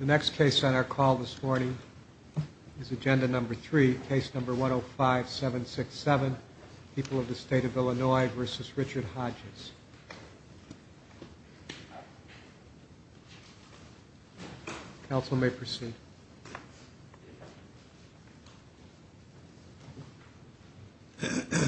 The next case on our call this morning is Agenda Number 3, Case Number 105-767, People of the State of Illinois v. Richard Hodges. Counsel may proceed. Thank you.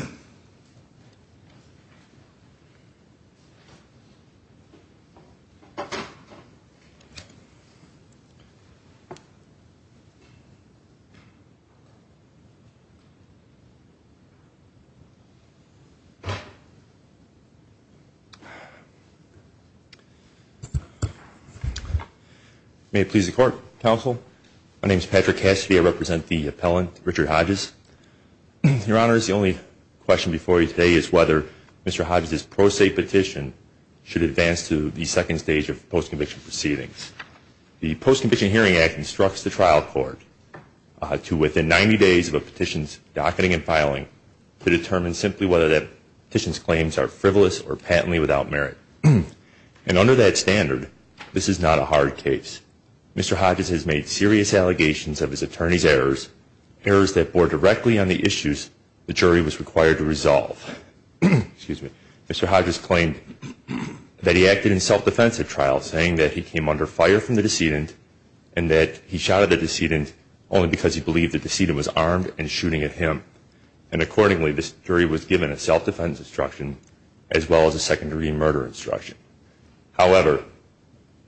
My name is Patrick Cassidy. I represent the appellant, Richard Hodges. Your Honor, the only question before you today is whether Mr. Hodges' pro se petition should advance to the second stage of post-conviction proceedings. The Post-Conviction Hearing Act instructs the trial court to, within 90 days of a petition's docketing and filing, to determine simply whether that petition's claims are frivolous or patently without merit. And under that standard, this is not a hard case. Mr. Hodges has made serious allegations of his attorney's errors, errors that bore directly on the issues the jury was required to resolve. Mr. Hodges claimed that he acted in self-defense at trial, saying that he came under fire from the decedent and that he shot at the decedent only because he believed the decedent was armed and shooting at him. And accordingly, this jury was given a self-defense instruction as well as a secondary murder instruction. However,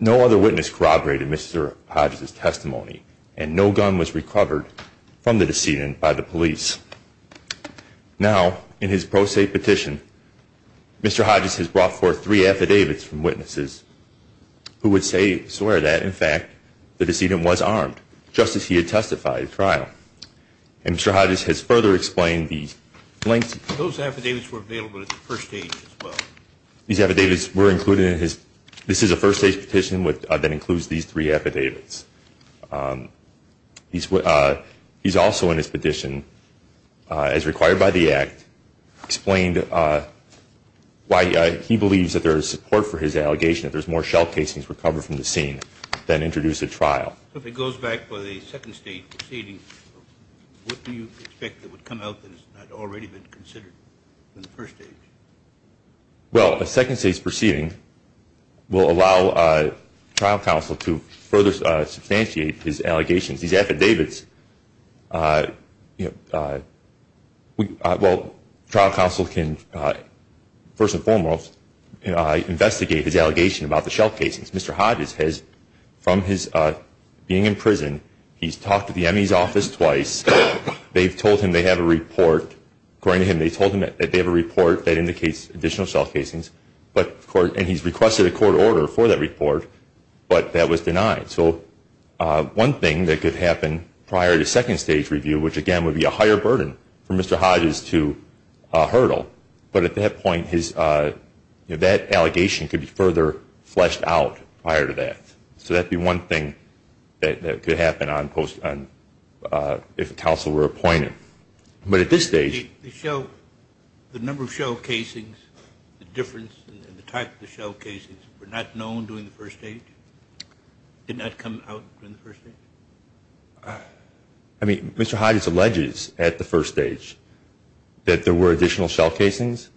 no other witness corroborated Mr. Hodges' testimony, and no gun was recovered from the decedent by the police. Now, in his pro se petition, Mr. Hodges has brought forth three affidavits from witnesses who would say, swear that, in fact, the decedent was armed, just as he had testified at trial. And Mr. Hodges has further explained these claims. Those affidavits were available at the first stage as well? These affidavits were included in his – this is a first stage petition that includes these three affidavits. He's also, in his petition, as required by the Act, explained why he believes that there is support for his allegation, that there's more shell casings recovered from the scene than introduced at trial. If it goes back to the second stage proceeding, what do you expect that would come out that has not already been considered in the first stage? Well, a second stage proceeding will allow trial counsel to further substantiate his allegations. These affidavits – well, trial counsel can, first and foremost, investigate his allegation about the shell casings. Mr. Hodges has, from his being in prison, he's talked to the ME's office twice. They've told him they have a report. According to him, they told him that they have a report that indicates additional shell casings, and he's requested a court order for that report, but that was denied. So one thing that could happen prior to second stage review, which, again, would be a higher burden for Mr. Hodges to hurdle, but at that point, that allegation could be further fleshed out prior to that. So that would be one thing that could happen if a counsel were appointed. But at this stage – The number of shell casings, the difference in the type of the shell casings were not known during the first stage? Did not come out during the first stage? I mean, Mr. Hodges alleges at the first stage that there were additional shell casings,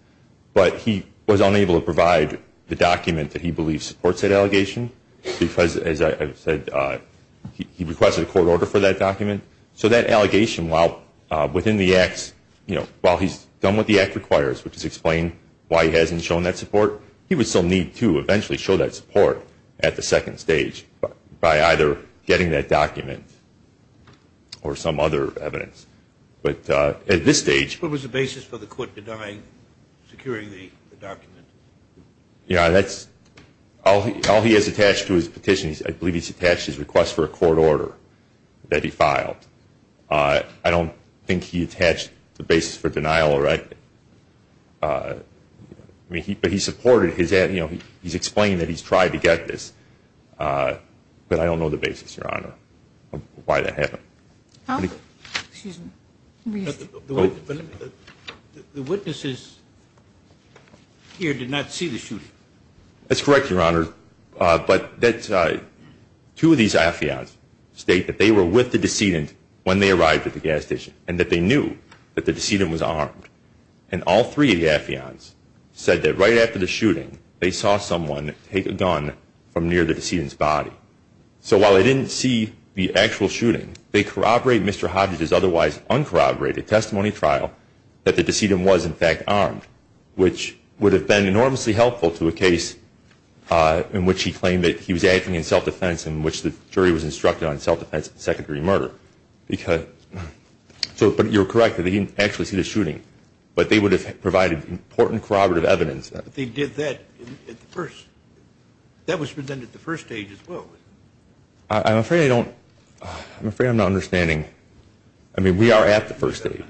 but he was unable to provide the document that he believes supports that allegation because, as I've said, he requested a court order for that document. So that allegation, while within the acts, you know, while he's done what the act requires, which is explain why he hasn't shown that support, he would still need to eventually show that support at the second stage by either getting that document or some other evidence. But at this stage – What was the basis for the court denying securing the document? Yeah, that's – all he has attached to his petition, I believe he's attached his request for a court order that he filed. I don't think he attached the basis for denial. I mean, but he supported his – you know, he's explained that he's tried to get this. But I don't know the basis, Your Honor, of why that happened. Excuse me. The witnesses here did not see the shooting. That's correct, Your Honor. But two of these affiants state that they were with the decedent when they arrived at the gas station and that they knew that the decedent was armed. And all three of the affiants said that right after the shooting they saw someone take a gun from near the decedent's body. So while they didn't see the actual shooting, they corroborate Mr. Hodges' otherwise uncorroborated testimony trial that the decedent was, in fact, armed, which would have been enormously helpful to a case in which he claimed that he was acting in self-defense and in which the jury was instructed on self-defense and secondary murder. But you're correct that they didn't actually see the shooting. But they would have provided important corroborative evidence. But they did that at the first – that was presented at the first stage as well, wasn't it? I'm afraid I don't – I'm afraid I'm not understanding. I mean, we are at the first stage.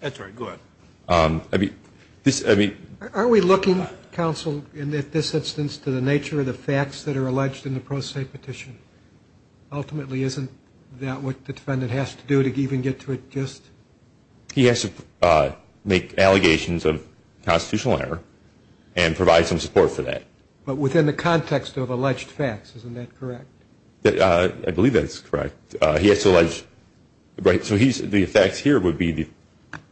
That's all right. Go ahead. I mean, this – I mean – Are we looking, counsel, in this instance to the nature of the facts that are alleged in the pro se petition? Ultimately, isn't that what the defendant has to do to even get to it just? He has to make allegations of constitutional error and provide some support for that. But within the context of alleged facts, isn't that correct? I believe that's correct. He has to – right, so he's – the facts here would be,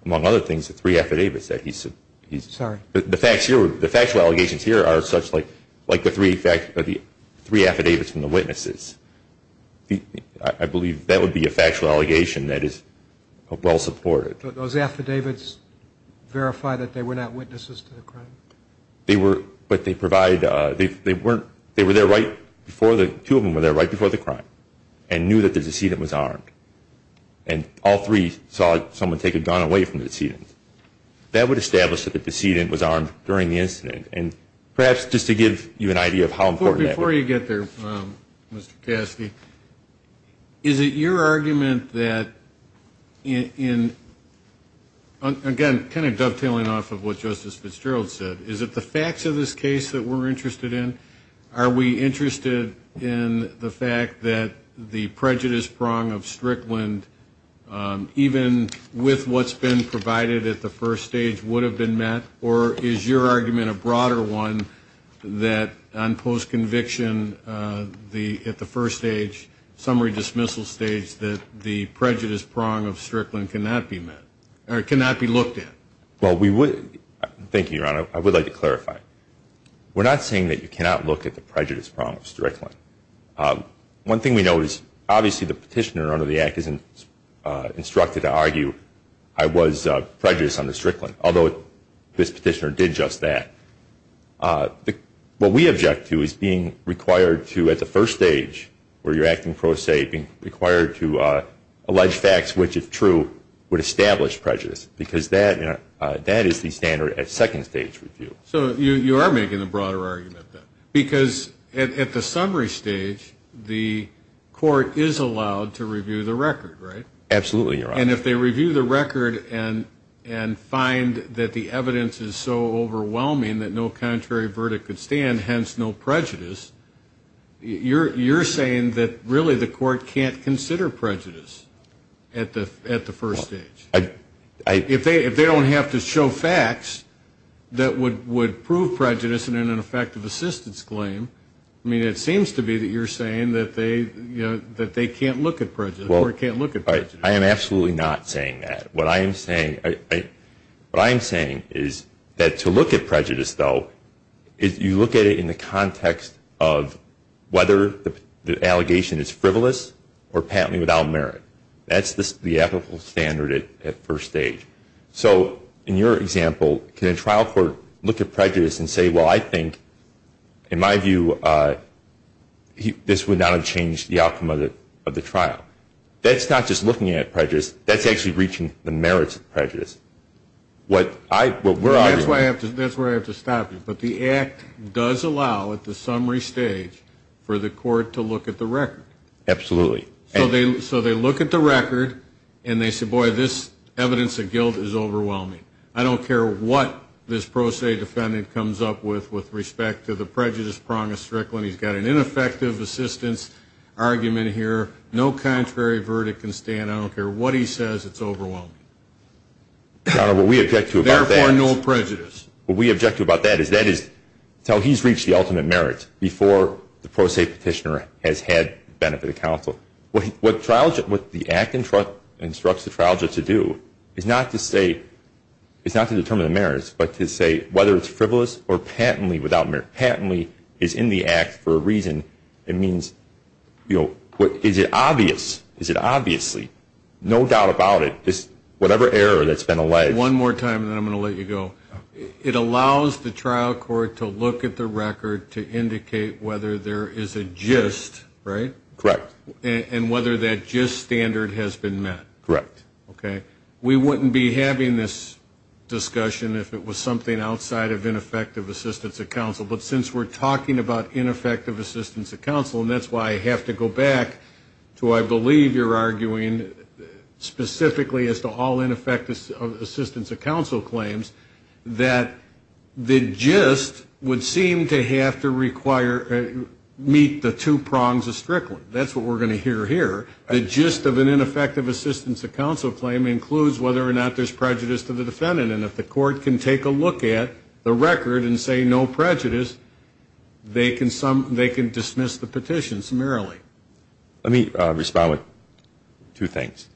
among other things, the three affidavits that he's – Sorry. The facts here – the factual allegations here are such like the three affidavits from the witnesses. I believe that would be a factual allegation that is well supported. But those affidavits verify that they were not witnesses to the crime. They were – but they provide – they weren't – they were there right before the – And all three saw someone take a gun away from the decedent. That would establish that the decedent was armed during the incident. And perhaps just to give you an idea of how important that would be. Before you get there, Mr. Caskey, is it your argument that in – again, kind of dovetailing off of what Justice Fitzgerald said, is it the facts of this case that we're interested in? Are we interested in the fact that the prejudice prong of Strickland, even with what's been provided at the first stage, would have been met? Or is your argument a broader one that on post-conviction at the first stage, summary dismissal stage, that the prejudice prong of Strickland cannot be met – or cannot be looked at? Well, we would – thank you, Your Honor. I would like to clarify. We're not saying that you cannot look at the prejudice prong of Strickland. One thing we know is obviously the petitioner under the Act isn't instructed to argue, I was prejudiced under Strickland, although this petitioner did just that. What we object to is being required to, at the first stage where you're acting pro se, being required to allege facts which, if true, would establish prejudice. Because that is the standard at second stage review. So you are making a broader argument, then, because at the summary stage, the court is allowed to review the record, right? Absolutely, Your Honor. And if they review the record and find that the evidence is so overwhelming that no contrary verdict could stand, hence no prejudice, you're saying that really the court can't consider prejudice at the first stage? If they don't have to show facts that would prove prejudice in an effective assistance claim, I mean, it seems to be that you're saying that they can't look at prejudice. The court can't look at prejudice. I am absolutely not saying that. What I am saying is that to look at prejudice, though, you look at it in the context of whether the allegation is frivolous or patently without merit. That's the ethical standard at first stage. So in your example, can a trial court look at prejudice and say, well, I think, in my view, this would not have changed the outcome of the trial? That's not just looking at prejudice. That's actually reaching the merits of prejudice. That's where I have to stop you. But the Act does allow at the summary stage for the court to look at the record. Absolutely. So they look at the record, and they say, boy, this evidence of guilt is overwhelming. I don't care what this pro se defendant comes up with with respect to the prejudice prong of Strickland. He's got an ineffective assistance argument here. No contrary verdict can stand. I don't care what he says. It's overwhelming. Your Honor, what we object to about that is that is until he's reached the ultimate merit, before the pro se petitioner has had benefit of counsel. What the Act instructs the trial judge to do is not to determine the merits, but to say whether it's frivolous or patently without merit. Patently is in the Act for a reason. It means is it obvious? Is it obviously? No doubt about it. Whatever error that's been alleged. One more time, and then I'm going to let you go. It allows the trial court to look at the record to indicate whether there is a gist, right? Correct. And whether that gist standard has been met. Correct. Okay. We wouldn't be having this discussion if it was something outside of ineffective assistance of counsel. But since we're talking about ineffective assistance of counsel, and that's why I have to go back to, I believe, you're arguing specifically as to all ineffective assistance of counsel claims, that the gist would seem to have to meet the two prongs of Strickland. That's what we're going to hear here. The gist of an ineffective assistance of counsel claim includes whether or not there's prejudice to the defendant. And if the court can take a look at the record and say no prejudice, they can dismiss the petition summarily. Okay. Let me respond with two things.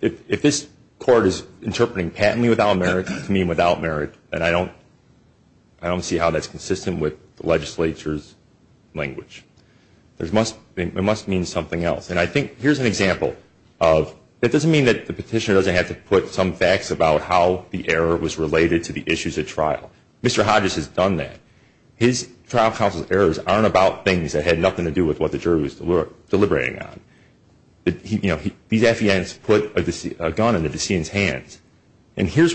If this court is interpreting patently without merit to mean without merit, then I don't see how that's consistent with the legislature's language. It must mean something else. And I think here's an example of it doesn't mean that the petitioner doesn't have to put some facts about how the error was related to the issues at trial. Mr. Hodges has done that. His trial counsel's errors aren't about things that had nothing to do with what the jury was deliberating on. You know, these FDNs put a gun in the decedent's hands. And here's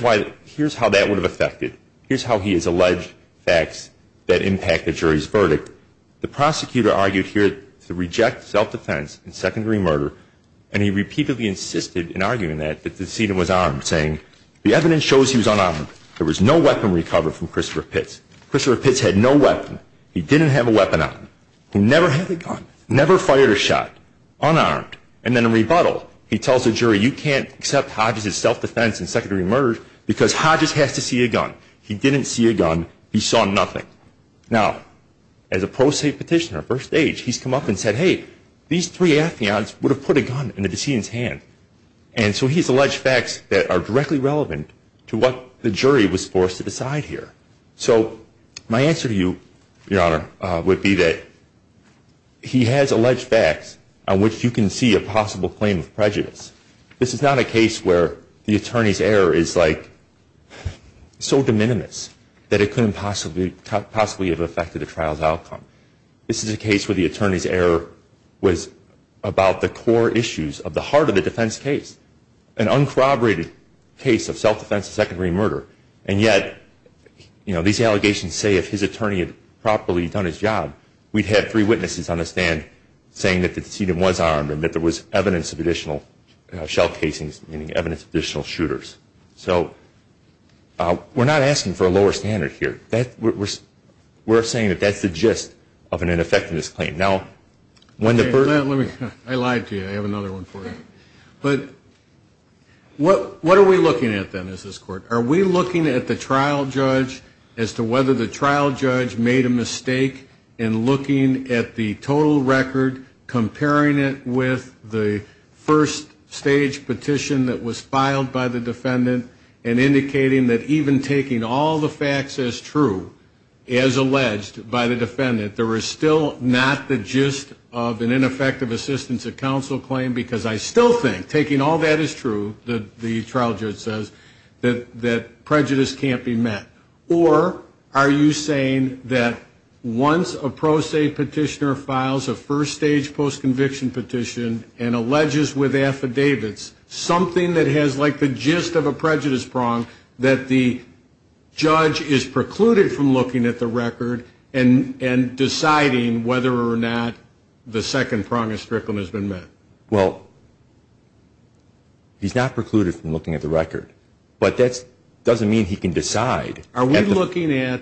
how that would have affected. Here's how he has alleged facts that impact the jury's verdict. The prosecutor argued here to reject self-defense and secondary murder, and he repeatedly insisted in arguing that the decedent was armed, saying, the evidence shows he was unarmed. There was no weapon recovered from Christopher Pitts. Christopher Pitts had no weapon. He didn't have a weapon on him. He never had a gun, never fired a shot, unarmed. And then in rebuttal, he tells the jury, you can't accept Hodges' self-defense and secondary murder because Hodges has to see a gun. He didn't see a gun. He saw nothing. Now, as a pro se petitioner, first age, he's come up and said, hey, these three FDNs would have put a gun in the decedent's hands. And so he's alleged facts that are directly relevant to what the jury was forced to decide here. So my answer to you, Your Honor, would be that he has alleged facts on which you can see a possible claim of prejudice. This is not a case where the attorney's error is, like, so de minimis that it couldn't possibly have affected the trial's outcome. This is a case where the attorney's error was about the core issues of the heart of the defense case, an uncorroborated case of self-defense and secondary murder, and yet, you know, these allegations say if his attorney had properly done his job, we'd have three witnesses on the stand saying that the decedent was armed and that there was evidence of additional shell casings, meaning evidence of additional shooters. So we're not asking for a lower standard here. We're saying that that's the gist of an ineffectiveness claim. Now, when the first ---- I lied to you. I have another one for you. But what are we looking at, then, as this Court? Are we looking at the trial judge as to whether the trial judge made a mistake in looking at the total record, comparing it with the first-stage petition that was filed by the defendant, and indicating that even taking all the facts as true, as alleged by the defendant, there is still not the gist of an ineffective assistance of counsel claim? Because I still think taking all that as true, the trial judge says, that prejudice can't be met. Or are you saying that once a pro se petitioner files a first-stage post-conviction petition and alleges with affidavits something that has, like, the gist of a prejudice prong, that the judge is precluded from looking at the record and deciding whether or not the second prong of Strickland has been met? Well, he's not precluded from looking at the record. But that doesn't mean he can decide. Are we looking at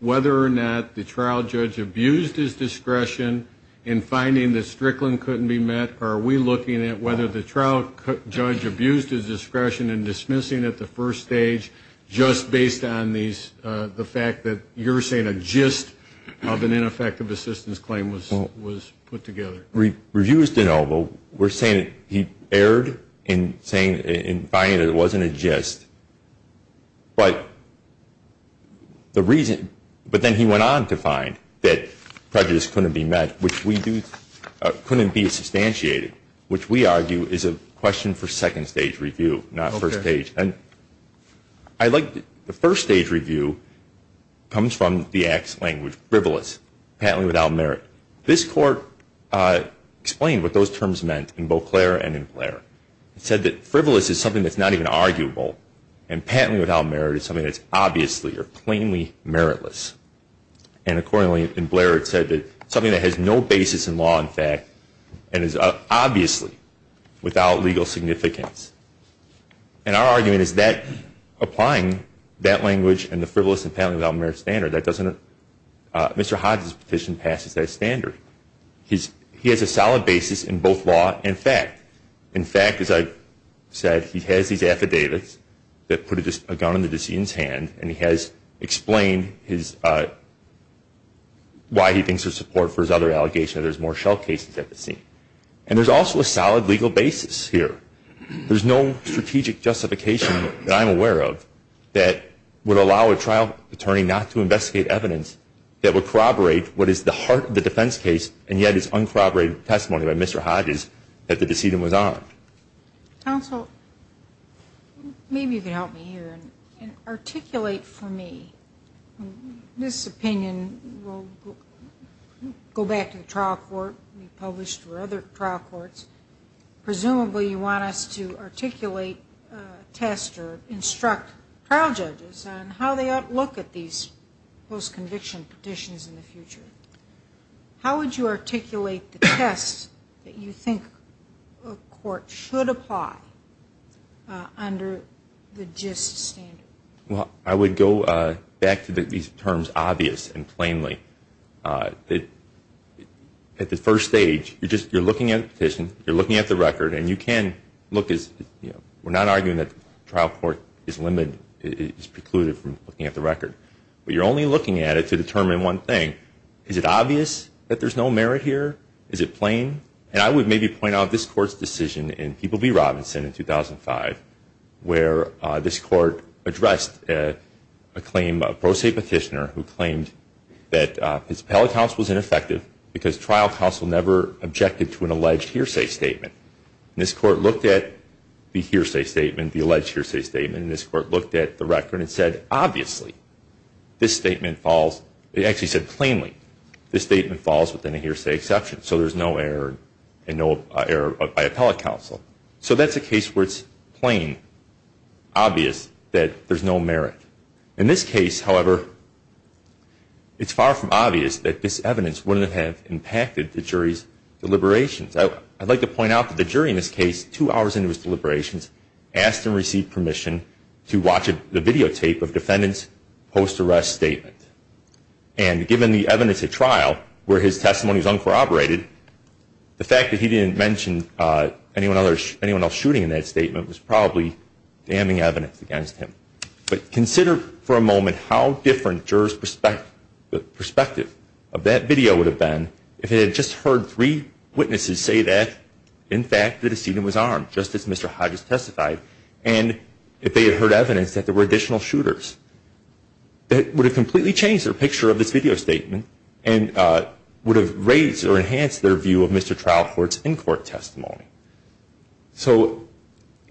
whether or not the trial judge abused his discretion in finding that Strickland couldn't be met, or are we looking at whether the trial judge abused his discretion in dismissing at the first stage, just based on the fact that you're saying a gist of an ineffective assistance claim was put together? Reviews de novo were saying that he erred in finding that it wasn't a gist. But then he went on to find that prejudice couldn't be met, which couldn't be substantiated, which we argue is a question for second-stage review, not first-stage. And I like the first-stage review comes from the ax language, frivolous, patently without merit. This court explained what those terms meant in Beauclair and in Blair. It said that frivolous is something that's not even arguable, and patently without merit is something that's obviously or plainly meritless. And accordingly, in Blair, it said that it's something that has no basis in law and fact and is obviously without legal significance. And our argument is that applying that language and the frivolous and patently without merit standard, Mr. Hodges' petition passes that standard. He has a solid basis in both law and fact. In fact, as I said, he has these affidavits that put a gun in the decedent's hand, and he has explained why he thinks there's support for his other allegations, that there's more shell cases at the scene. And there's also a solid legal basis here. There's no strategic justification that I'm aware of that would allow a trial attorney not to investigate evidence that would corroborate what is the heart of the defense case and yet is uncorroborated testimony by Mr. Hodges that the decedent was armed. Counsel, maybe you can help me here and articulate for me. This opinion will go back to the trial court we published or other trial courts. Presumably you want us to articulate, test, or instruct trial judges on how they ought to look at these post-conviction petitions in the future. How would you articulate the test that you think a court should apply under the GIST standard? Well, I would go back to these terms obvious and plainly. At the first stage, you're looking at the petition, you're looking at the record, and you can look as we're not arguing that the trial court is limited, is precluded from looking at the record. But you're only looking at it to determine one thing. Is it obvious that there's no merit here? Is it plain? And I would maybe point out this court's decision in People v. Robinson in 2005 where this court addressed a pro se petitioner who claimed that his appellate counsel was ineffective because trial counsel never objected to an alleged hearsay statement. And this court looked at the hearsay statement, the alleged hearsay statement, and this court looked at the record and said, obviously this statement falls, it actually said plainly, this statement falls within a hearsay exception. So there's no error by appellate counsel. So that's a case where it's plain, obvious that there's no merit. In this case, however, it's far from obvious that this evidence wouldn't have impacted the jury's deliberations. I'd like to point out that the jury in this case, two hours into his deliberations, asked him to receive permission to watch the videotape of the defendant's post-arrest statement. And given the evidence at trial where his testimony was uncorroborated, the fact that he didn't mention anyone else shooting in that statement was probably damning evidence against him. But consider for a moment how different the jurors' perspective of that video would have been if they had just heard three witnesses say that, in fact, the decedent was armed, just as Mr. Hodges testified, and if they had heard evidence that there were additional shooters. That would have completely changed their picture of this video statement and would have raised or enhanced their view of Mr. Trial Court's in-court testimony. So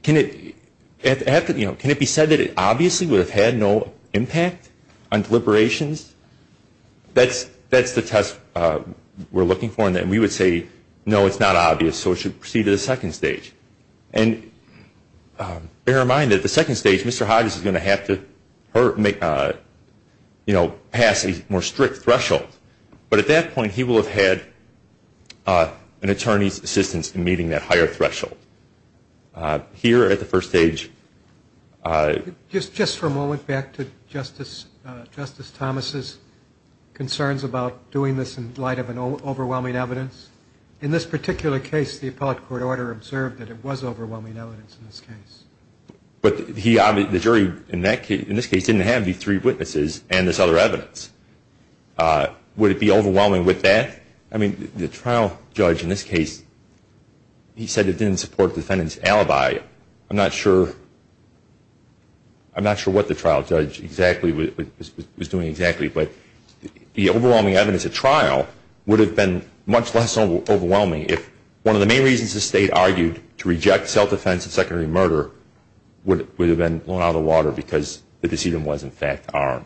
can it be said that it obviously would have had no impact on deliberations? That's the test we're looking for, and we would say, no, it's not obvious, so it should proceed to the second stage. And bear in mind that the second stage, Mr. Hodges is going to have to pass a more strict threshold, but at that point he will have had an attorney's assistance in meeting that higher threshold. Here at the first stage- Just for a moment, back to Justice Thomas's concerns about doing this in light of overwhelming evidence. In this particular case, the appellate court order observed that it was overwhelming evidence in this case. But the jury in this case didn't have the three witnesses and this other evidence. Would it be overwhelming with that? I mean, the trial judge in this case, he said it didn't support defendant's alibi. I'm not sure what the trial judge was doing exactly, but the overwhelming evidence at trial would have been much less overwhelming if one of the main reasons the State argued to reject self-defense and secondary murder would have been blown out of the water because the decedent was, in fact, armed.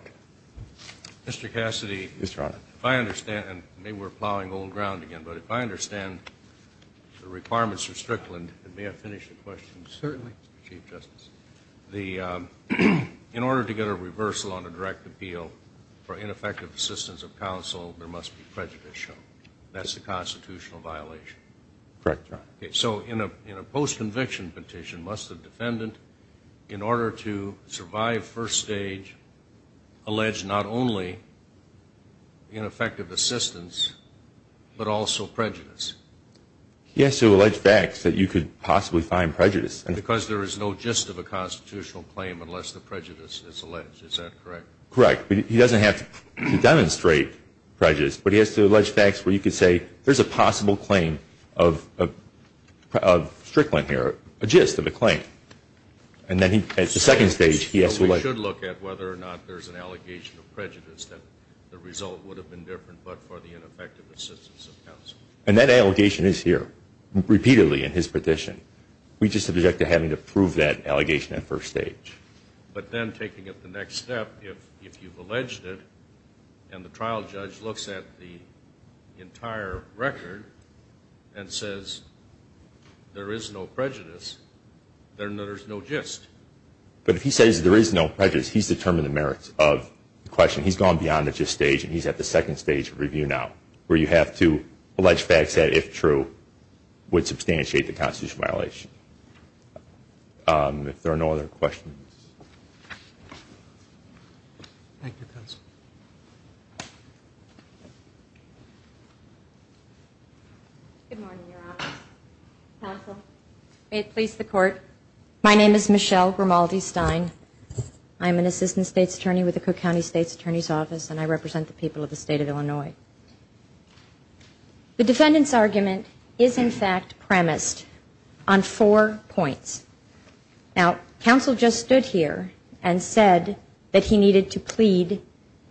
Mr. Cassidy, if I understand, and maybe we're plowing old ground again, but if I understand the requirements for Strickland, and may I finish the question? Certainly, Chief Justice. In order to get a reversal on a direct appeal for ineffective assistance of counsel, there must be prejudice shown. That's a constitutional violation. Correct, Your Honor. So in a post-conviction petition, must the defendant, in order to survive first stage, allege not only ineffective assistance but also prejudice? Yes, to allege facts that you could possibly find prejudice. Because there is no gist of a constitutional claim unless the prejudice is alleged. Is that correct? Correct. He doesn't have to demonstrate prejudice, but he has to allege facts where you could say there's a possible claim of Strickland here, a gist of a claim. And then at the second stage, he has to allege. So we should look at whether or not there's an allegation of prejudice, that the result would have been different but for the ineffective assistance of counsel. And that allegation is here repeatedly in his petition. We just object to having to prove that allegation at first stage. But then taking it to the next step, if you've alleged it and the trial judge looks at the entire record and says there is no prejudice, then there's no gist. But if he says there is no prejudice, he's determined the merits of the question. He's gone beyond the gist stage and he's at the second stage of review now, where you have to allege facts that, if true, would substantiate the constitutional violation. If there are no other questions. Thank you, counsel. Good morning, Your Honor. Counsel, may it please the Court, my name is Michelle Romaldi Stein. I'm an assistant state's attorney with the Cook County State's Attorney's Office, and I represent the people of the state of Illinois. The defendant's argument is, in fact, premised on four points. Now, counsel just stood here and said that he needed to plead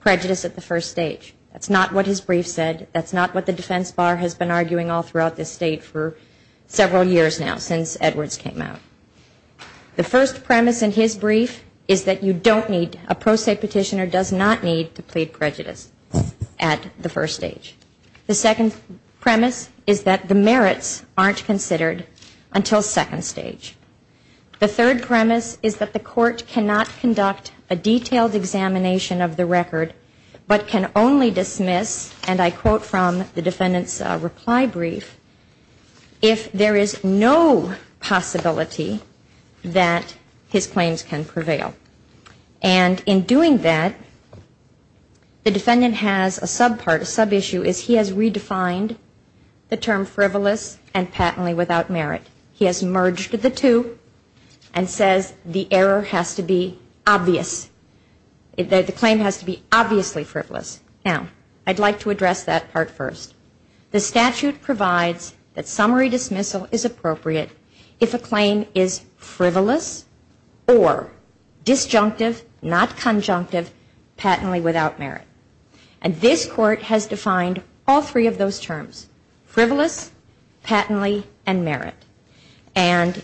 prejudice at the first stage. That's not what his brief said. That's not what the defense bar has been arguing all throughout this state for several years now, since Edwards came out. The first premise in his brief is that you don't need, a pro se petitioner does not need to plead prejudice at the first stage. The second premise is that the merits aren't considered until second stage. The third premise is that the court cannot conduct a detailed examination of the record, but can only dismiss, and I quote from the defendant's reply brief, if there is no possibility that his claims can prevail. And in doing that, the defendant has a sub part, a sub issue, is he has redefined the term frivolous and patently without merit. He has merged the two and says the error has to be obvious. The claim has to be obviously frivolous. Now, I'd like to address that part first. The statute provides that summary dismissal is appropriate if a claim is frivolous or disjunctive, not conjunctive, patently without merit. And this court has defined all three of those terms, frivolous, patently, and merit. And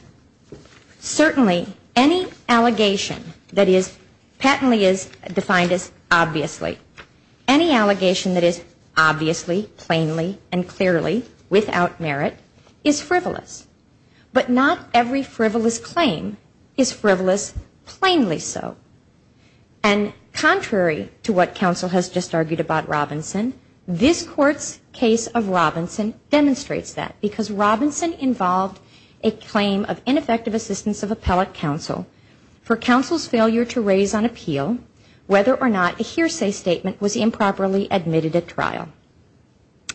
certainly any allegation that is patently is defined as obviously. Any allegation that is obviously, plainly, and clearly without merit is frivolous. But not every frivolous claim is frivolous plainly so. And contrary to what counsel has just argued about Robinson, this court's case of Robinson demonstrates that. Because Robinson involved a claim of ineffective assistance of appellate counsel for counsel's failure to raise on appeal whether or not a hearsay statement was improperly admitted at trial.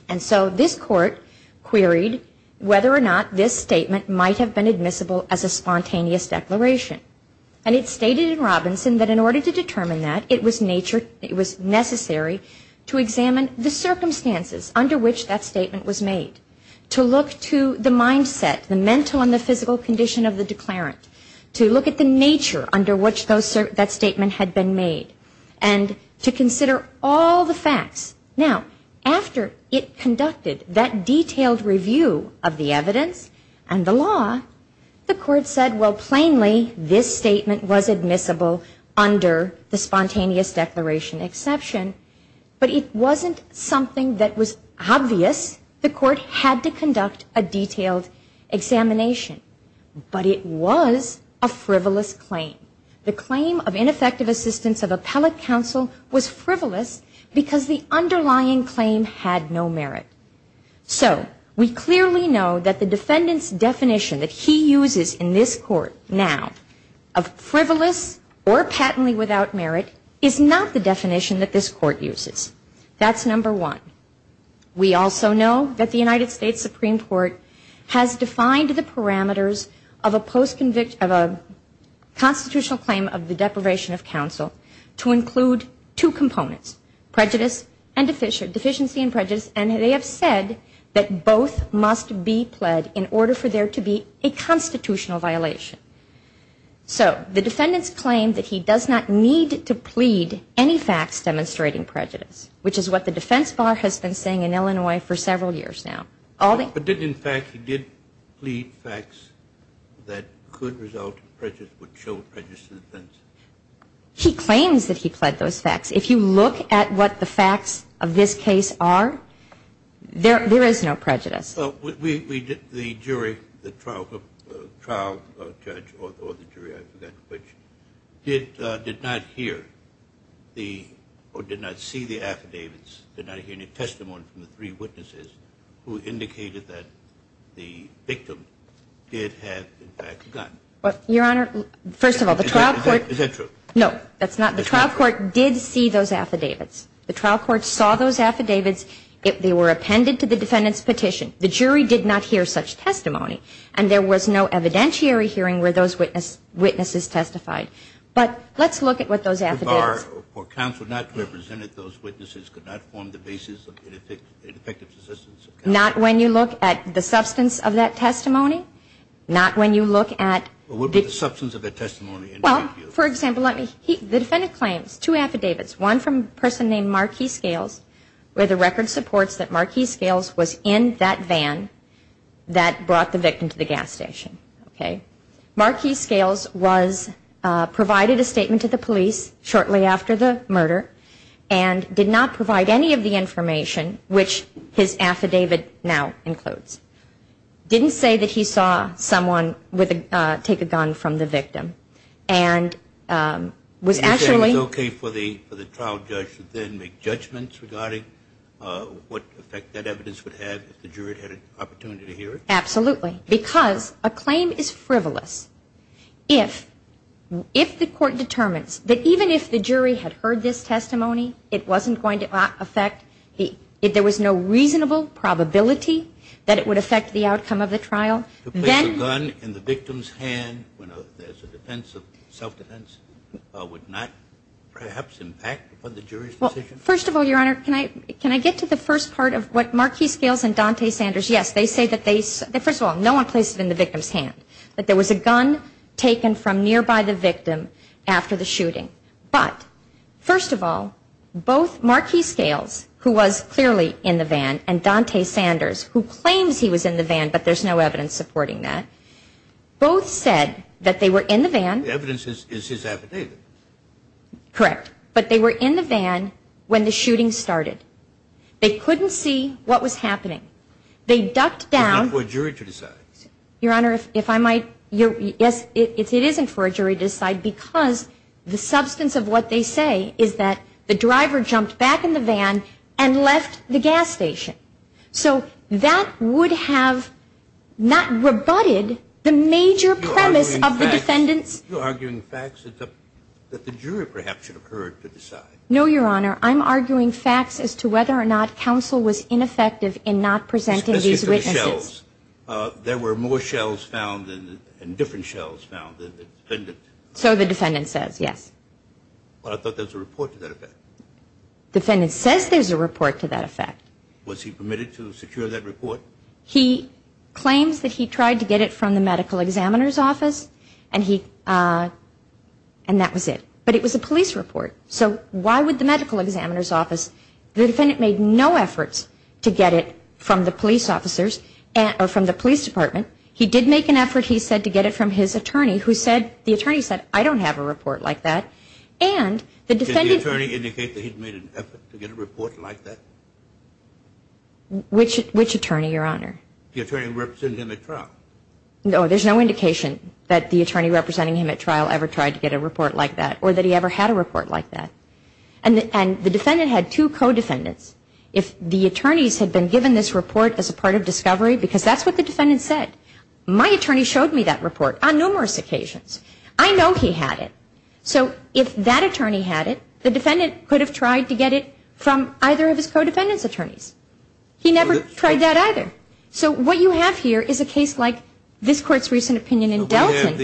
And so this court queried whether or not this statement might have been admissible as a spontaneous declaration. And it stated in Robinson that in order to determine that, it was necessary to examine the circumstances under which that statement was made, to look to the mindset, the mental and the physical condition of the declarant, to look at the nature under which that statement had been made, and to consider all the facts. Now, after it conducted that detailed review of the evidence and the law, the court said, well, plainly, this statement was admissible under the spontaneous declaration exception. But it wasn't something that was obvious. The court had to conduct a detailed examination. But it was a frivolous claim. The claim of ineffective assistance of appellate counsel was frivolous because the underlying claim had no merit. So we clearly know that the defendant's definition that he uses in this court now of frivolous or patently without merit is not the definition that this court uses. That's number one. We also know that the United States Supreme Court has defined the parameters of a constitutional claim of the deprivation of counsel to include two components, prejudice and deficiency, and they have said that both must be pled in order for there to be a constitutional violation. So the defendant's claim that he does not need to plead any facts demonstrating prejudice, which is what the defense bar has been saying in Illinois for several years now. In fact, he did plead facts that could result in prejudice, would show prejudice to the defense. He claims that he pled those facts. If you look at what the facts of this case are, there is no prejudice. The jury, the trial judge or the jury, I forget which, did not hear the or did not see the affidavits, did not hear any testimony from the three witnesses who indicated that the victim did have, in fact, a gun. Your Honor, first of all, the trial court. Is that true? No, that's not. The trial court did see those affidavits. The trial court saw those affidavits. They were appended to the defendant's petition. The jury did not hear such testimony, and there was no evidentiary hearing where those witnesses testified. But let's look at what those affidavits. The bar or counsel not represented those witnesses could not form the basis of ineffective assistance. Not when you look at the substance of that testimony, not when you look at. What would be the substance of that testimony? Well, for example, the defendant claims two affidavits, one from a person named Marquis Scales, where the record supports that Marquis Scales was in that van that brought the victim to the gas station. Marquis Scales provided a statement to the police shortly after the murder and did not provide any of the information, which his affidavit now includes. Didn't say that he saw someone take a gun from the victim. And was actually. You're saying it's okay for the trial judge to then make judgments regarding what effect that evidence would have if the jury had an opportunity to hear it? Absolutely. Because a claim is frivolous. If the court determines that even if the jury had heard this testimony, it wasn't going to affect. There was no reasonable probability that it would affect the outcome of the trial. To place a gun in the victim's hand when there's a defense of self-defense would not perhaps impact upon the jury's decision? First of all, Your Honor, can I get to the first part of what Marquis Scales and Dante Sanders, yes, they say that they, first of all, no one placed it in the victim's hand. That there was a gun taken from nearby the victim after the shooting. But first of all, both Marquis Scales, who was clearly in the van, and Dante Sanders, who claims he was in the van, but there's no evidence supporting that, both said that they were in the van. The evidence is his affidavit. Correct. But they were in the van when the shooting started. They couldn't see what was happening. They ducked down. It isn't for a jury to decide. Your Honor, if I might, yes, it isn't for a jury to decide because the substance of what they say is that the driver jumped back in the van and left the gas station. So that would have not rebutted the major premise of the defendants. You're arguing facts that the jury perhaps should have heard to decide. No, Your Honor. I'm arguing facts as to whether or not counsel was ineffective in not presenting these witnesses. There were more shells found and different shells found than the defendant. So the defendant says, yes. But I thought there was a report to that effect. The defendant says there's a report to that effect. Was he permitted to secure that report? He claims that he tried to get it from the medical examiner's office, and that was it. But it was a police report. So why would the medical examiner's office? The defendant made no efforts to get it from the police officers or from the police department. He did make an effort, he said, to get it from his attorney who said, the attorney said, I don't have a report like that. Did the attorney indicate that he made an effort to get a report like that? Which attorney, Your Honor? The attorney representing him at trial. No, there's no indication that the attorney representing him at trial ever tried to get a report like that or that he ever had a report like that. And the defendant had two co-defendants. If the attorneys had been given this report as a part of discovery, because that's what the defendant said. My attorney showed me that report on numerous occasions. I know he had it. So if that attorney had it, the defendant could have tried to get it from either of his co-defendants' attorneys. He never tried that either. So what you have here is a case like this Court's recent opinion in Delton.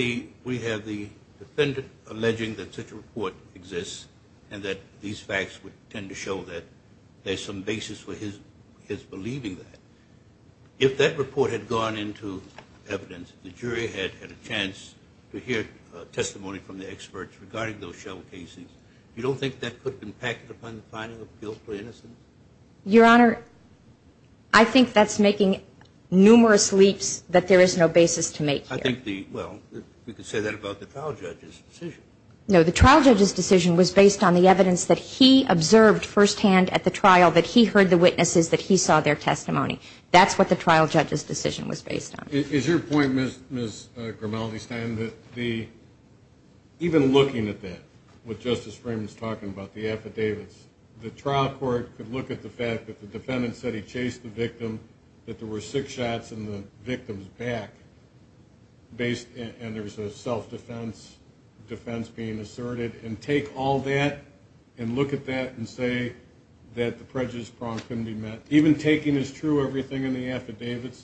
We have the defendant alleging that such a report exists and that these facts would tend to show that there's some basis for his believing that. If that report had gone into evidence, the jury had had a chance to hear testimony from the experts regarding those shell cases, you don't think that could impact upon the finding of guilt or innocence? Your Honor, I think that's making numerous leaps that there is no basis to make here. Well, we could say that about the trial judge's decision. No, the trial judge's decision was based on the evidence that he observed firsthand at the trial, that he heard the witnesses, that he saw their testimony. That's what the trial judge's decision was based on. Is your point, Ms. Grimaldi-Stein, that even looking at that, what Justice Freeman's talking about, the affidavits, the trial court could look at the fact that the defendant said he chased the victim, that there were six shots in the victim's back, and there's a self-defense defense being asserted, and take all that and look at that and say that the prejudice prong couldn't be met? Even taking as true everything in the affidavits,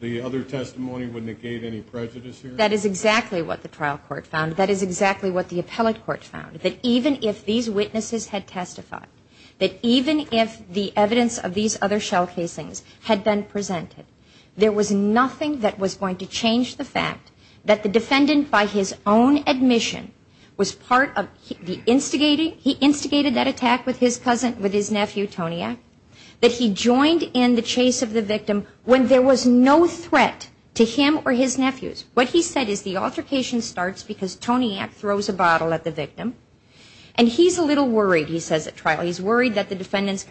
the other testimony would negate any prejudice here? That is exactly what the trial court found. That is exactly what the appellate court found. That even if these witnesses had testified, that even if the evidence of these other shell casings had been presented, there was nothing that was going to change the fact that the defendant, by his own admission, was part of the instigating, he instigated that attack with his cousin, with his nephew, Tony Eck, that he joined in the chase of the victim when there was no threat to him or his nephews. What he said is the altercation starts because Tony Eck throws a bottle at the victim, and he's a little worried, he says at trial, he's worried that the victim's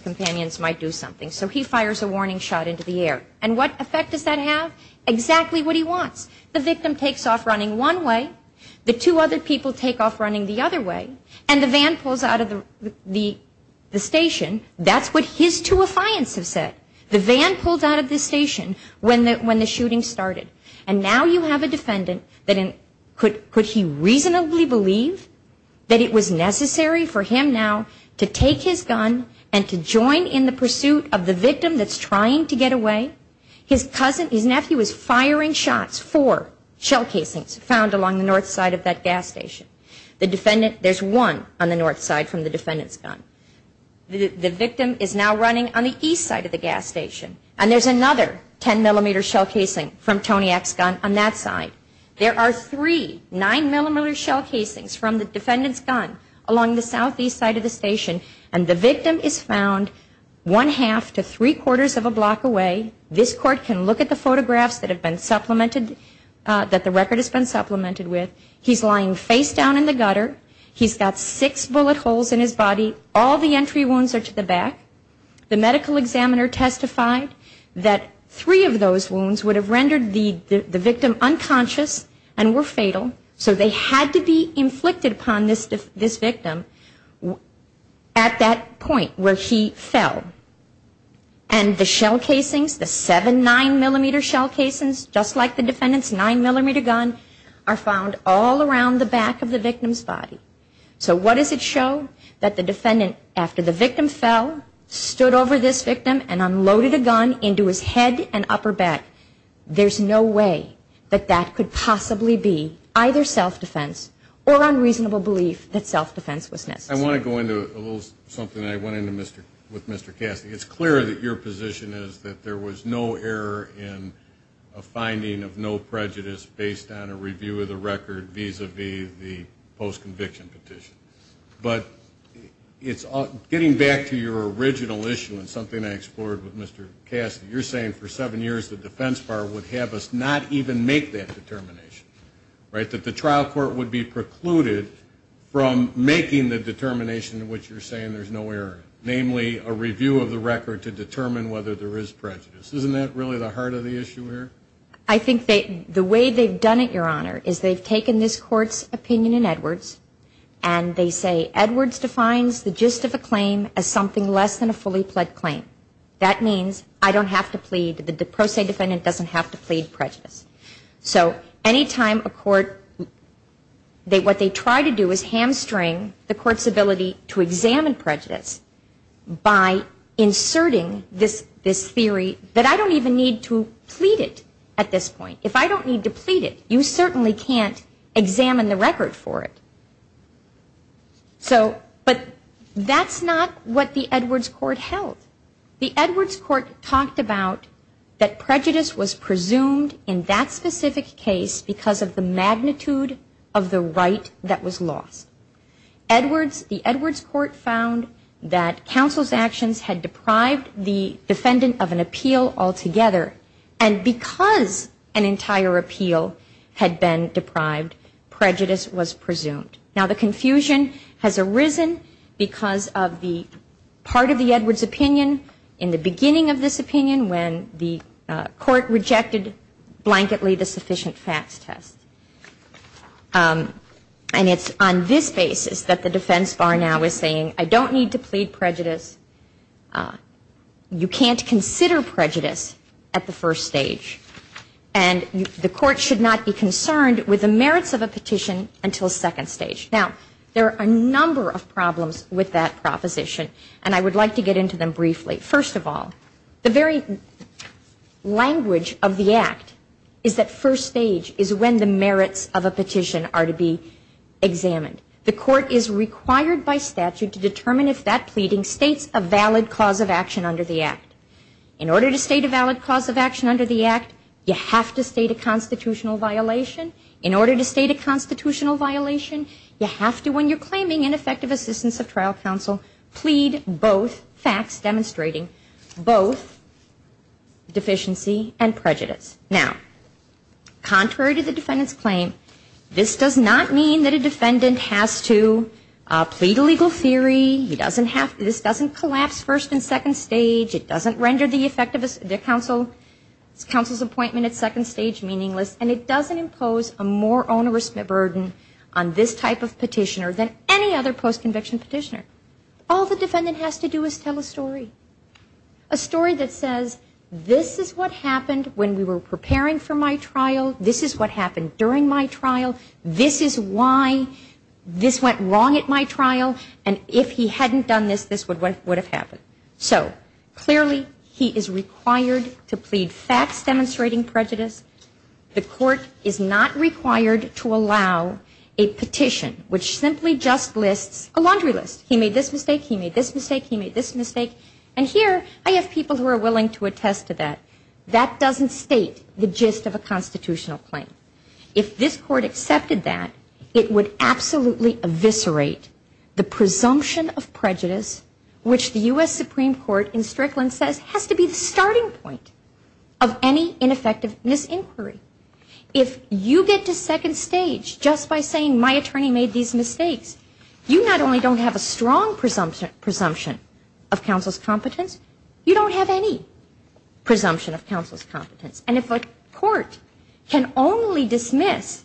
companions might do something, so he fires a warning shot into the air. And what effect does that have? Exactly what he wants. The victim takes off running one way, the two other people take off running the other way, and the van pulls out of the station. That's what his two affiants have said. The van pulls out of the station when the shooting started, and now you have a defendant that could he reasonably believe that it was necessary for him now to take his gun and to join in the pursuit of the victim that's trying to get away? His cousin, his nephew, is firing shots for shell casings found along the north side of that gas station. There's one on the north side from the defendant's gun. The victim is now running on the east side of the gas station, and there's another 10-millimeter shell casing from Tony Eck's gun on that side. There are three 9-millimeter shell casings from the defendant's gun along the southeast side of the station, and the victim is found one-half to three-quarters of a block away. This court can look at the photographs that the record has been supplemented with. He's lying face down in the gutter. He's got six bullet holes in his body. All the entry wounds are to the back. The medical examiner testified that three of those wounds would have rendered the victim unconscious and were fatal, so they had to be inflicted upon this victim at that point where he fell. And the shell casings, the seven 9-millimeter shell casings, just like the defendant's 9-millimeter gun, are found all around the back of the victim's body. So what does it show? That the defendant, after the victim fell, stood over this victim and unloaded a gun into his head and upper back. There's no way that that could possibly be either self-defense or unreasonable belief that self-defense was necessary. I want to go into a little something I went into with Mr. Cassidy. It's clear that your position is that there was no error in a finding of no prejudice based on a review of the record vis-à-vis the post-conviction petition. But getting back to your original issue and something I explored with Mr. Cassidy, you're saying for seven years the Defense Bar would have us not even make that determination, right, that the trial court would be precluded from making the determination in which you're saying there's no error, namely, a review of the record to determine whether there is prejudice. Isn't that really the heart of the issue here? I think the way they've done it, Your Honor, is they've taken this court's opinion in Edwards and they say Edwards defines the gist of a claim as something less than a fully pled claim. That means I don't have to plead, the pro se defendant doesn't have to plead prejudice. So any time a court, what they try to do is hamstring the court's ability to examine prejudice by inserting this theory that I don't even need to plead it at this point. If I don't need to plead it, you certainly can't examine the record for it. But that's not what the Edwards court held. The Edwards court talked about that prejudice was presumed in that specific case because of the magnitude of the right that was lost. The Edwards court found that counsel's actions had deprived the defendant of an appeal altogether. And because an entire appeal had been deprived, prejudice was presumed. Now the confusion has arisen because of the part of the Edwards opinion in the beginning of this opinion when the court rejected blanketly the sufficient facts test. And it's on this basis that the defense bar now is saying I don't need to plead prejudice. You can't consider prejudice at the first stage. And the court should not be concerned with the merits of a petition until second stage. Now there are a number of problems with that proposition and I would like to get into them briefly. First of all, the very language of the act is that first stage is when the merits of a petition are to be examined. The court is required by statute to determine if that pleading states a valid cause of action under the act. In order to state a valid cause of action under the act, you have to state a constitutional violation. In order to state a constitutional violation, you have to, when you're claiming ineffective assistance of trial counsel, plead both facts demonstrating both deficiency and prejudice. Now, contrary to the defendant's claim, this does not mean that a defendant has to plead a legal theory. This doesn't collapse first and second stage. It doesn't render the counsel's appointment at second stage meaningless. And it doesn't impose a more onerous burden on this type of petitioner than any other post-conviction petitioner. All the defendant has to do is tell a story, a story that says this is what happened when we were preparing for my trial, this is what happened during my trial, this is why this went wrong at my trial, and if he hadn't done this, this would have happened. So clearly he is required to plead facts demonstrating prejudice. The court is not required to allow a petition which simply just lists a laundry list. He made this mistake, he made this mistake, he made this mistake, and here I have people who are willing to attest to that. That doesn't state the gist of a constitutional claim. If this court accepted that, it would absolutely eviscerate the presumption of prejudice which the U.S. Supreme Court in Strickland says has to be the starting point of any ineffectiveness inquiry. If you get to second stage just by saying my attorney made these mistakes, you not only don't have a strong presumption of counsel's competence, you don't have any presumption of counsel's competence. And if a court can only dismiss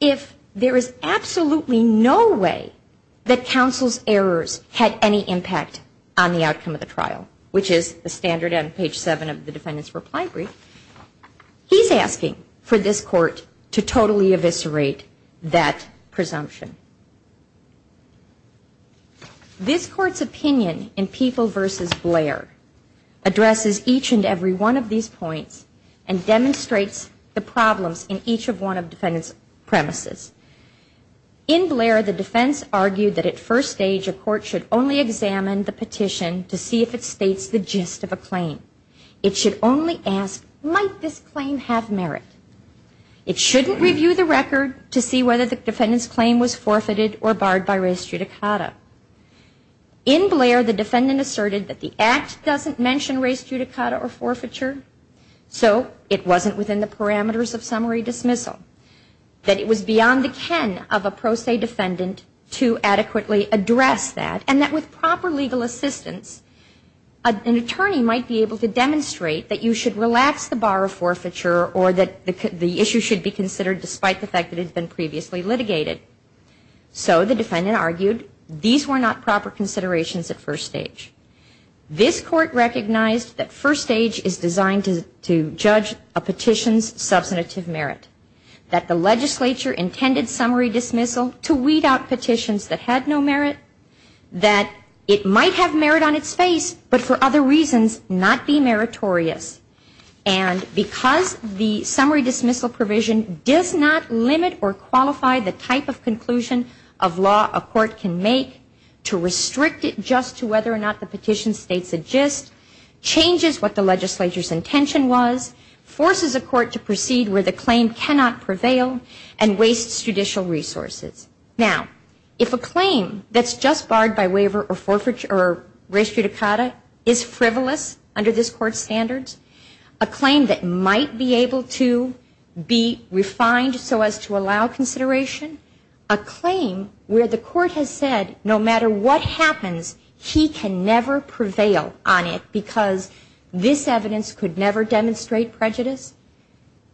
if there is absolutely no way that counsel's errors had any impact on the outcome of the trial, which is the standard on page 7 of the defendant's reply brief, he's asking for this court to totally eviscerate that presumption. This court's opinion in People v. Blair addresses each and every one of these points and demonstrates the problems in each one of the defendant's premises. In Blair, the defense argued that at first stage a court should only examine the petition to see if it states the gist of a claim. It should only ask, might this claim have merit? It shouldn't review the record to see whether the defendant's claim was forfeited or barred by res judicata. In Blair, the defendant asserted that the Act doesn't mention res judicata or forfeiture, so it wasn't within the parameters of summary dismissal. That it was beyond the ken of a pro se defendant to adequately address that, and that with proper legal assistance, an attorney might be able to demonstrate that you should relax the bar of forfeiture or that the issue should be considered despite the fact that it had been previously litigated. So the defendant argued these were not proper considerations at first stage. This court recognized that first stage is designed to judge a petition's substantive merit. That the legislature intended summary dismissal to weed out petitions that had no merit. That it might have merit on its face, but for other reasons not be meritorious. And because the summary dismissal provision does not limit or qualify the type of conclusion of law a court can make to restrict it just to whether or not the petition states a gist, changes what the legislature's intention was, forces a court to proceed where the claim cannot prevail, and wastes judicial resources. Now, if a claim that's just barred by waiver or forfeiture or res judicata is frivolous under this court's standards, a claim that might be able to be refined so as to allow consideration, a claim where the court has said no matter what happens, he can never prevail on it because this evidence could never demonstrate prejudice,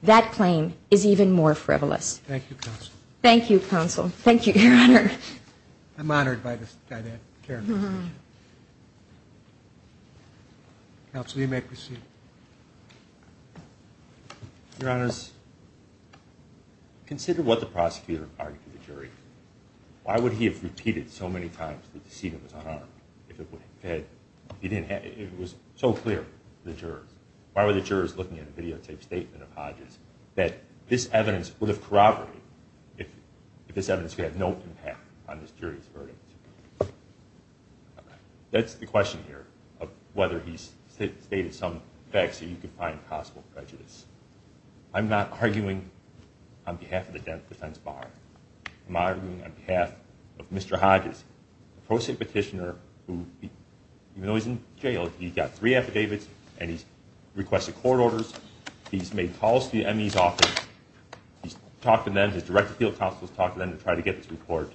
that claim is even more frivolous. Thank you counsel, thank you your honor. Counsel you may proceed. Consider what the prosecutor argued to the jury. Why would he have repeated so many times that the decedent was unarmed? It was so clear to the jurors. Why were the jurors looking at a videotape statement of Hodges that this evidence would have corroborated if this evidence had no impact on this jury's verdict? That's the question here of whether he's stated some facts that you could find possible prejudice. I'm not arguing on behalf of the defense bar. I'm arguing on behalf of Mr. Hodges, a pro se petitioner who, even though he's in jail, he's got three affidavits and he's requested court orders, he's made calls to the ME's office, he's talked to them, he's directed field counsels to talk to them to try to get this report.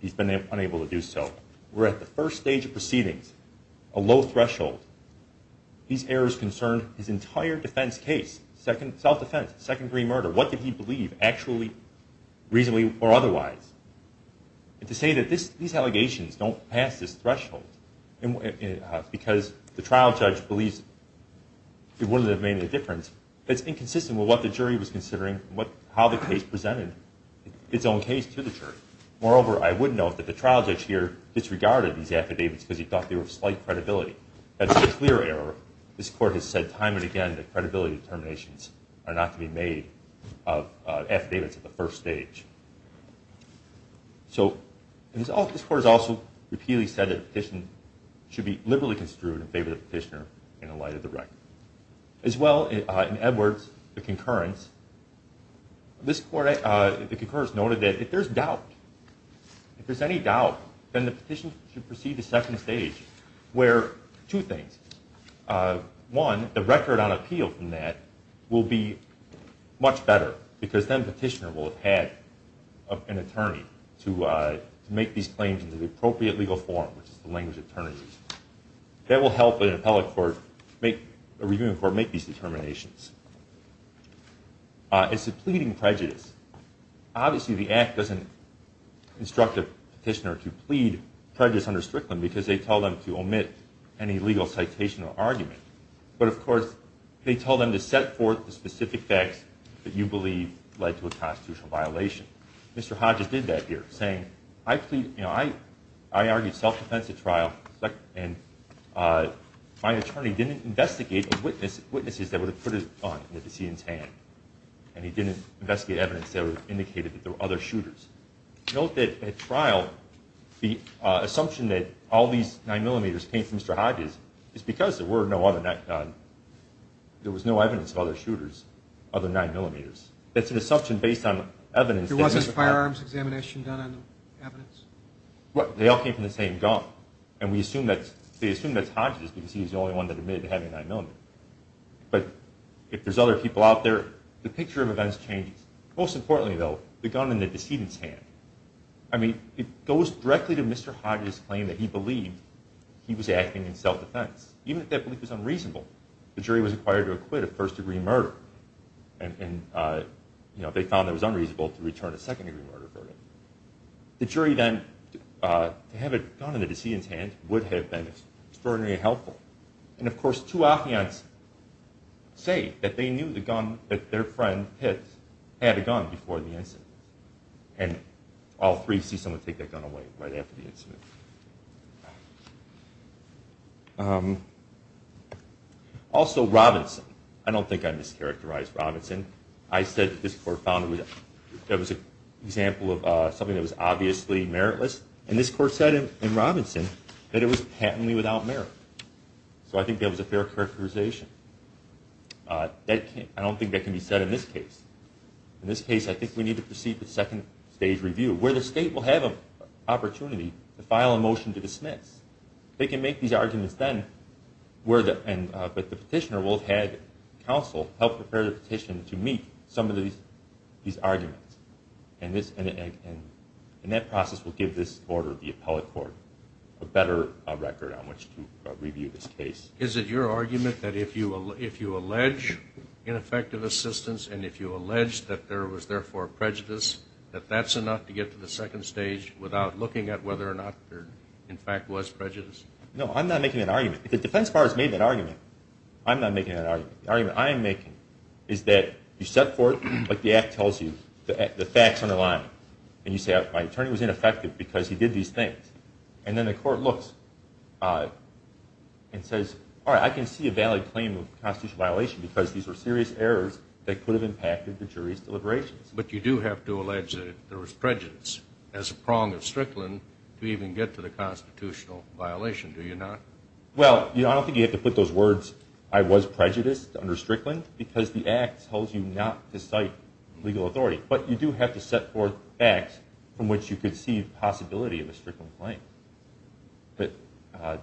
He's been unable to do so. We're at the first stage of proceedings, a low threshold. These errors concern his entire defense case, self-defense, second degree murder. What did he believe actually, reasonably or otherwise? And to say that these allegations don't pass this threshold because the trial judge believes it wouldn't have made a difference, that's inconsistent with what the jury was considering and how the case presented its own case to the jury. Moreover, I would note that the trial judge here disregarded these affidavits because he thought they were of slight credibility. That's a clear error. This court has said time and again that credibility determinations are not to be made of affidavits at the first stage. This court has also repeatedly said that a petition should be liberally construed in favor of the petitioner in the light of the record. As well, in Edwards, the concurrence, this court, the concurrence noted that if there's doubt, if there's any doubt, then the petition should proceed to second stage where two things. One, the record on appeal from that will be much better because then the petitioner will have had an attorney to make these claims into the appropriate legal form, which is the language of attorneys. That will help an appellate court, a reviewing court, make these determinations. As to pleading prejudice, obviously the Act doesn't instruct a petitioner to plead prejudice under Strickland because they tell them to omit any legal citation or argument. But of course, they tell them to set forth the specific facts that you believe led to a constitutional violation. Mr. Hodges did that here, saying, I plead, you know, I argued self-defense at trial and my attorney didn't investigate witnesses that would have put it on the decedent's hand. And he didn't investigate evidence that indicated that there were other shooters. Note that at trial, the assumption that all these 9mm came from Mr. Hodges is because there were no other, there was no evidence of other shooters, other 9mm. That's an assumption based on evidence. They all came from the same gun. And we assume that's Hodges because he's the only one that admitted to having a 9mm. But if there's other people out there, the picture of events changes. Most importantly, though, the gun in the decedent's hand. I mean, it goes directly to Mr. Hodges' claim that he believed he was acting in self-defense, even if that belief was unreasonable. The jury was required to acquit a first-degree murder and they found it was unreasonable to return a second-degree murder verdict. The jury then, to have a gun in the decedent's hand would have been extraordinarily helpful. And of course, two applicants say that they knew the gun that their friend had had a gun before the incident. And all three see someone take that gun away right after the incident. Also, Robinson. I don't think I mischaracterized Robinson. I said that this court found that it was an example of something that was obviously meritless. And this court said in Robinson that it was patently without merit. So I think that was a fair characterization. I don't think that can be said in this case. In this case, I think we need to proceed to second-stage review, where the state will have an opportunity to file a motion to dismiss. They can make these arguments then, but the petitioner will have had counsel help prepare the petitioner to meet some of these arguments. And that process will give this order of the appellate court a better record on which to review this case. Is it your argument that if you allege ineffective assistance and if you allege that there was therefore prejudice, that that's enough to get to the second stage without looking at whether or not there in fact was prejudice? No, I'm not making that argument. If the defense bar has made that argument, I'm not making that argument. The argument I am making is that you set forth, like the Act tells you, the facts underlying. And you say, my attorney was ineffective because he did these things. And then the court looks and says, all right, I can see a valid claim of constitutional violation because these were serious errors that could have impacted the jury's deliberations. But you do have to allege that there was prejudice as a prong of Strickland to even get to the constitutional violation, do you not? Well, I don't think you have to put those words, I was prejudiced under Strickland, because the Act tells you not to cite legal authority. But you do have to set forth facts from which you could see the possibility of a Strickland claim. But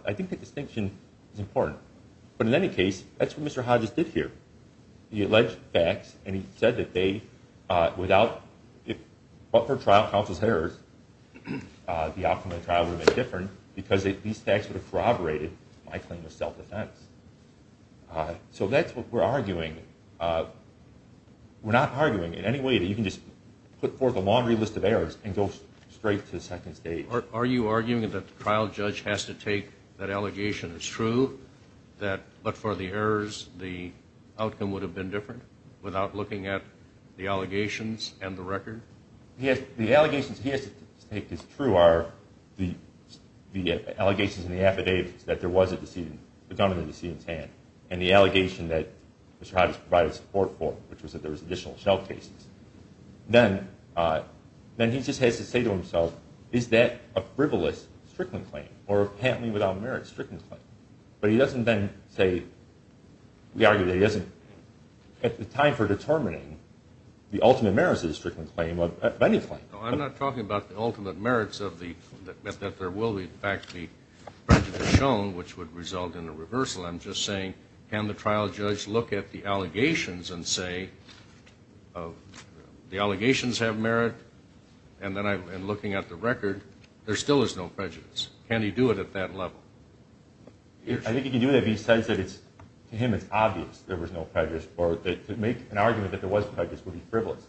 I think that distinction is important. But in any case, that's what Mr. Hodges did here. He alleged facts and he said that they, without, but for trial counsel's errors, the outcome of the trial would have been different because these facts would have corroborated my claim of self-defense. So that's what we're arguing. We're not arguing in any way that you can just put forth a laundry list of errors and go straight to the second stage. Are you arguing that the trial judge has to take that allegation as true, that but for the errors the outcome would have been different without looking at the allegations and the record? The allegations he has to take as true are the allegations in the affidavits that there was a gun in the decedent's hand and the allegation that Mr. Hodges provided support for, which was that there was additional shell cases. Then he just has to say to himself, is that a frivolous Strickland claim? Or apparently without merit, a Strickland claim? But he doesn't then say, we argue that he doesn't, at the time for determining the ultimate merits of a Strickland claim, of any claim. I'm not talking about the ultimate merits of the, that there will in fact be prejudice shown, which would result in a reversal. I'm just saying, can the trial judge look at the allegations and say, the allegations have merit, and looking at the record, there still is no prejudice. Can he do it at that level? I think he can do that, but he says that to him it's obvious there was no prejudice, or to make an argument that there was prejudice would be frivolous.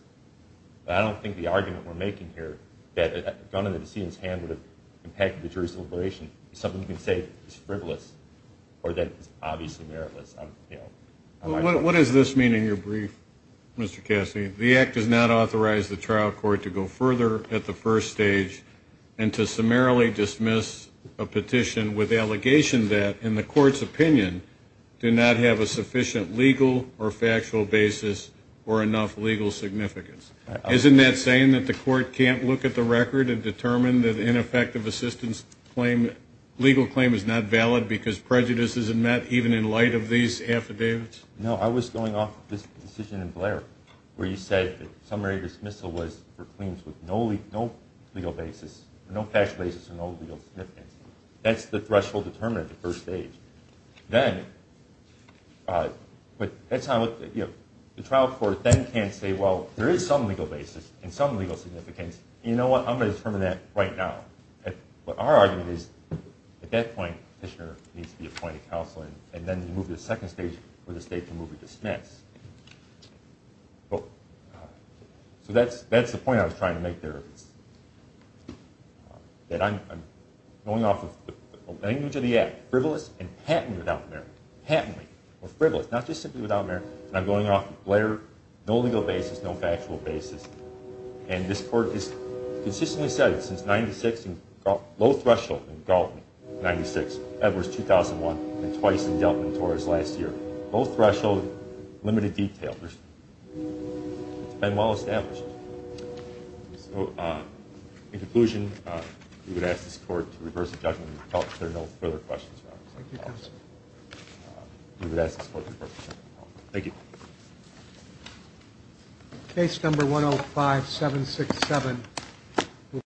But I don't think the argument we're making here, that a gun in the decedent's hand would have impacted the jury's deliberation, is something you can say is frivolous, or that it's obviously meritless. What does this mean in your brief, Mr. Cassidy? The act does not authorize the trial court to go further at the first stage, and to summarily dismiss a petition with the allegation that, in the court's opinion, do not have a sufficient legal or factual basis, or enough legal significance. Isn't that saying that the court can't look at the record and determine that ineffective assistance claim, legal claim, is not valid because prejudice isn't met, even in light of these affidavits? No, I was going off of this decision in Blair, where you said that summary dismissal was for claims with no legal basis, no factual basis, and no legal significance. That's the threshold determinant at the first stage. Then, but that's not what, you know, the trial court then can't say, well, there is some legal basis, and some legal significance, and you know what, I'm going to determine that right now. What our argument is, at that point, petitioner needs to be appointed counsel, and then you move to the second stage, where the state can move to dismiss. So that's the point I was trying to make there, that I'm going off of the language of the act, frivolous and patently without merit, patently, or frivolous, not just simply without merit, and I'm going off of Blair, no legal basis, no factual basis, and this court has consistently said, since 1996, low threshold in Galton, 1996, Edwards, 2001, and twice in Delton and Torres last year. Low threshold, limited detail. It's been well established. So, in conclusion, we would ask this court to reverse the judgment, and if there are no further questions, we would ask this court to reverse the judgment. Thank you. Case number 105-767.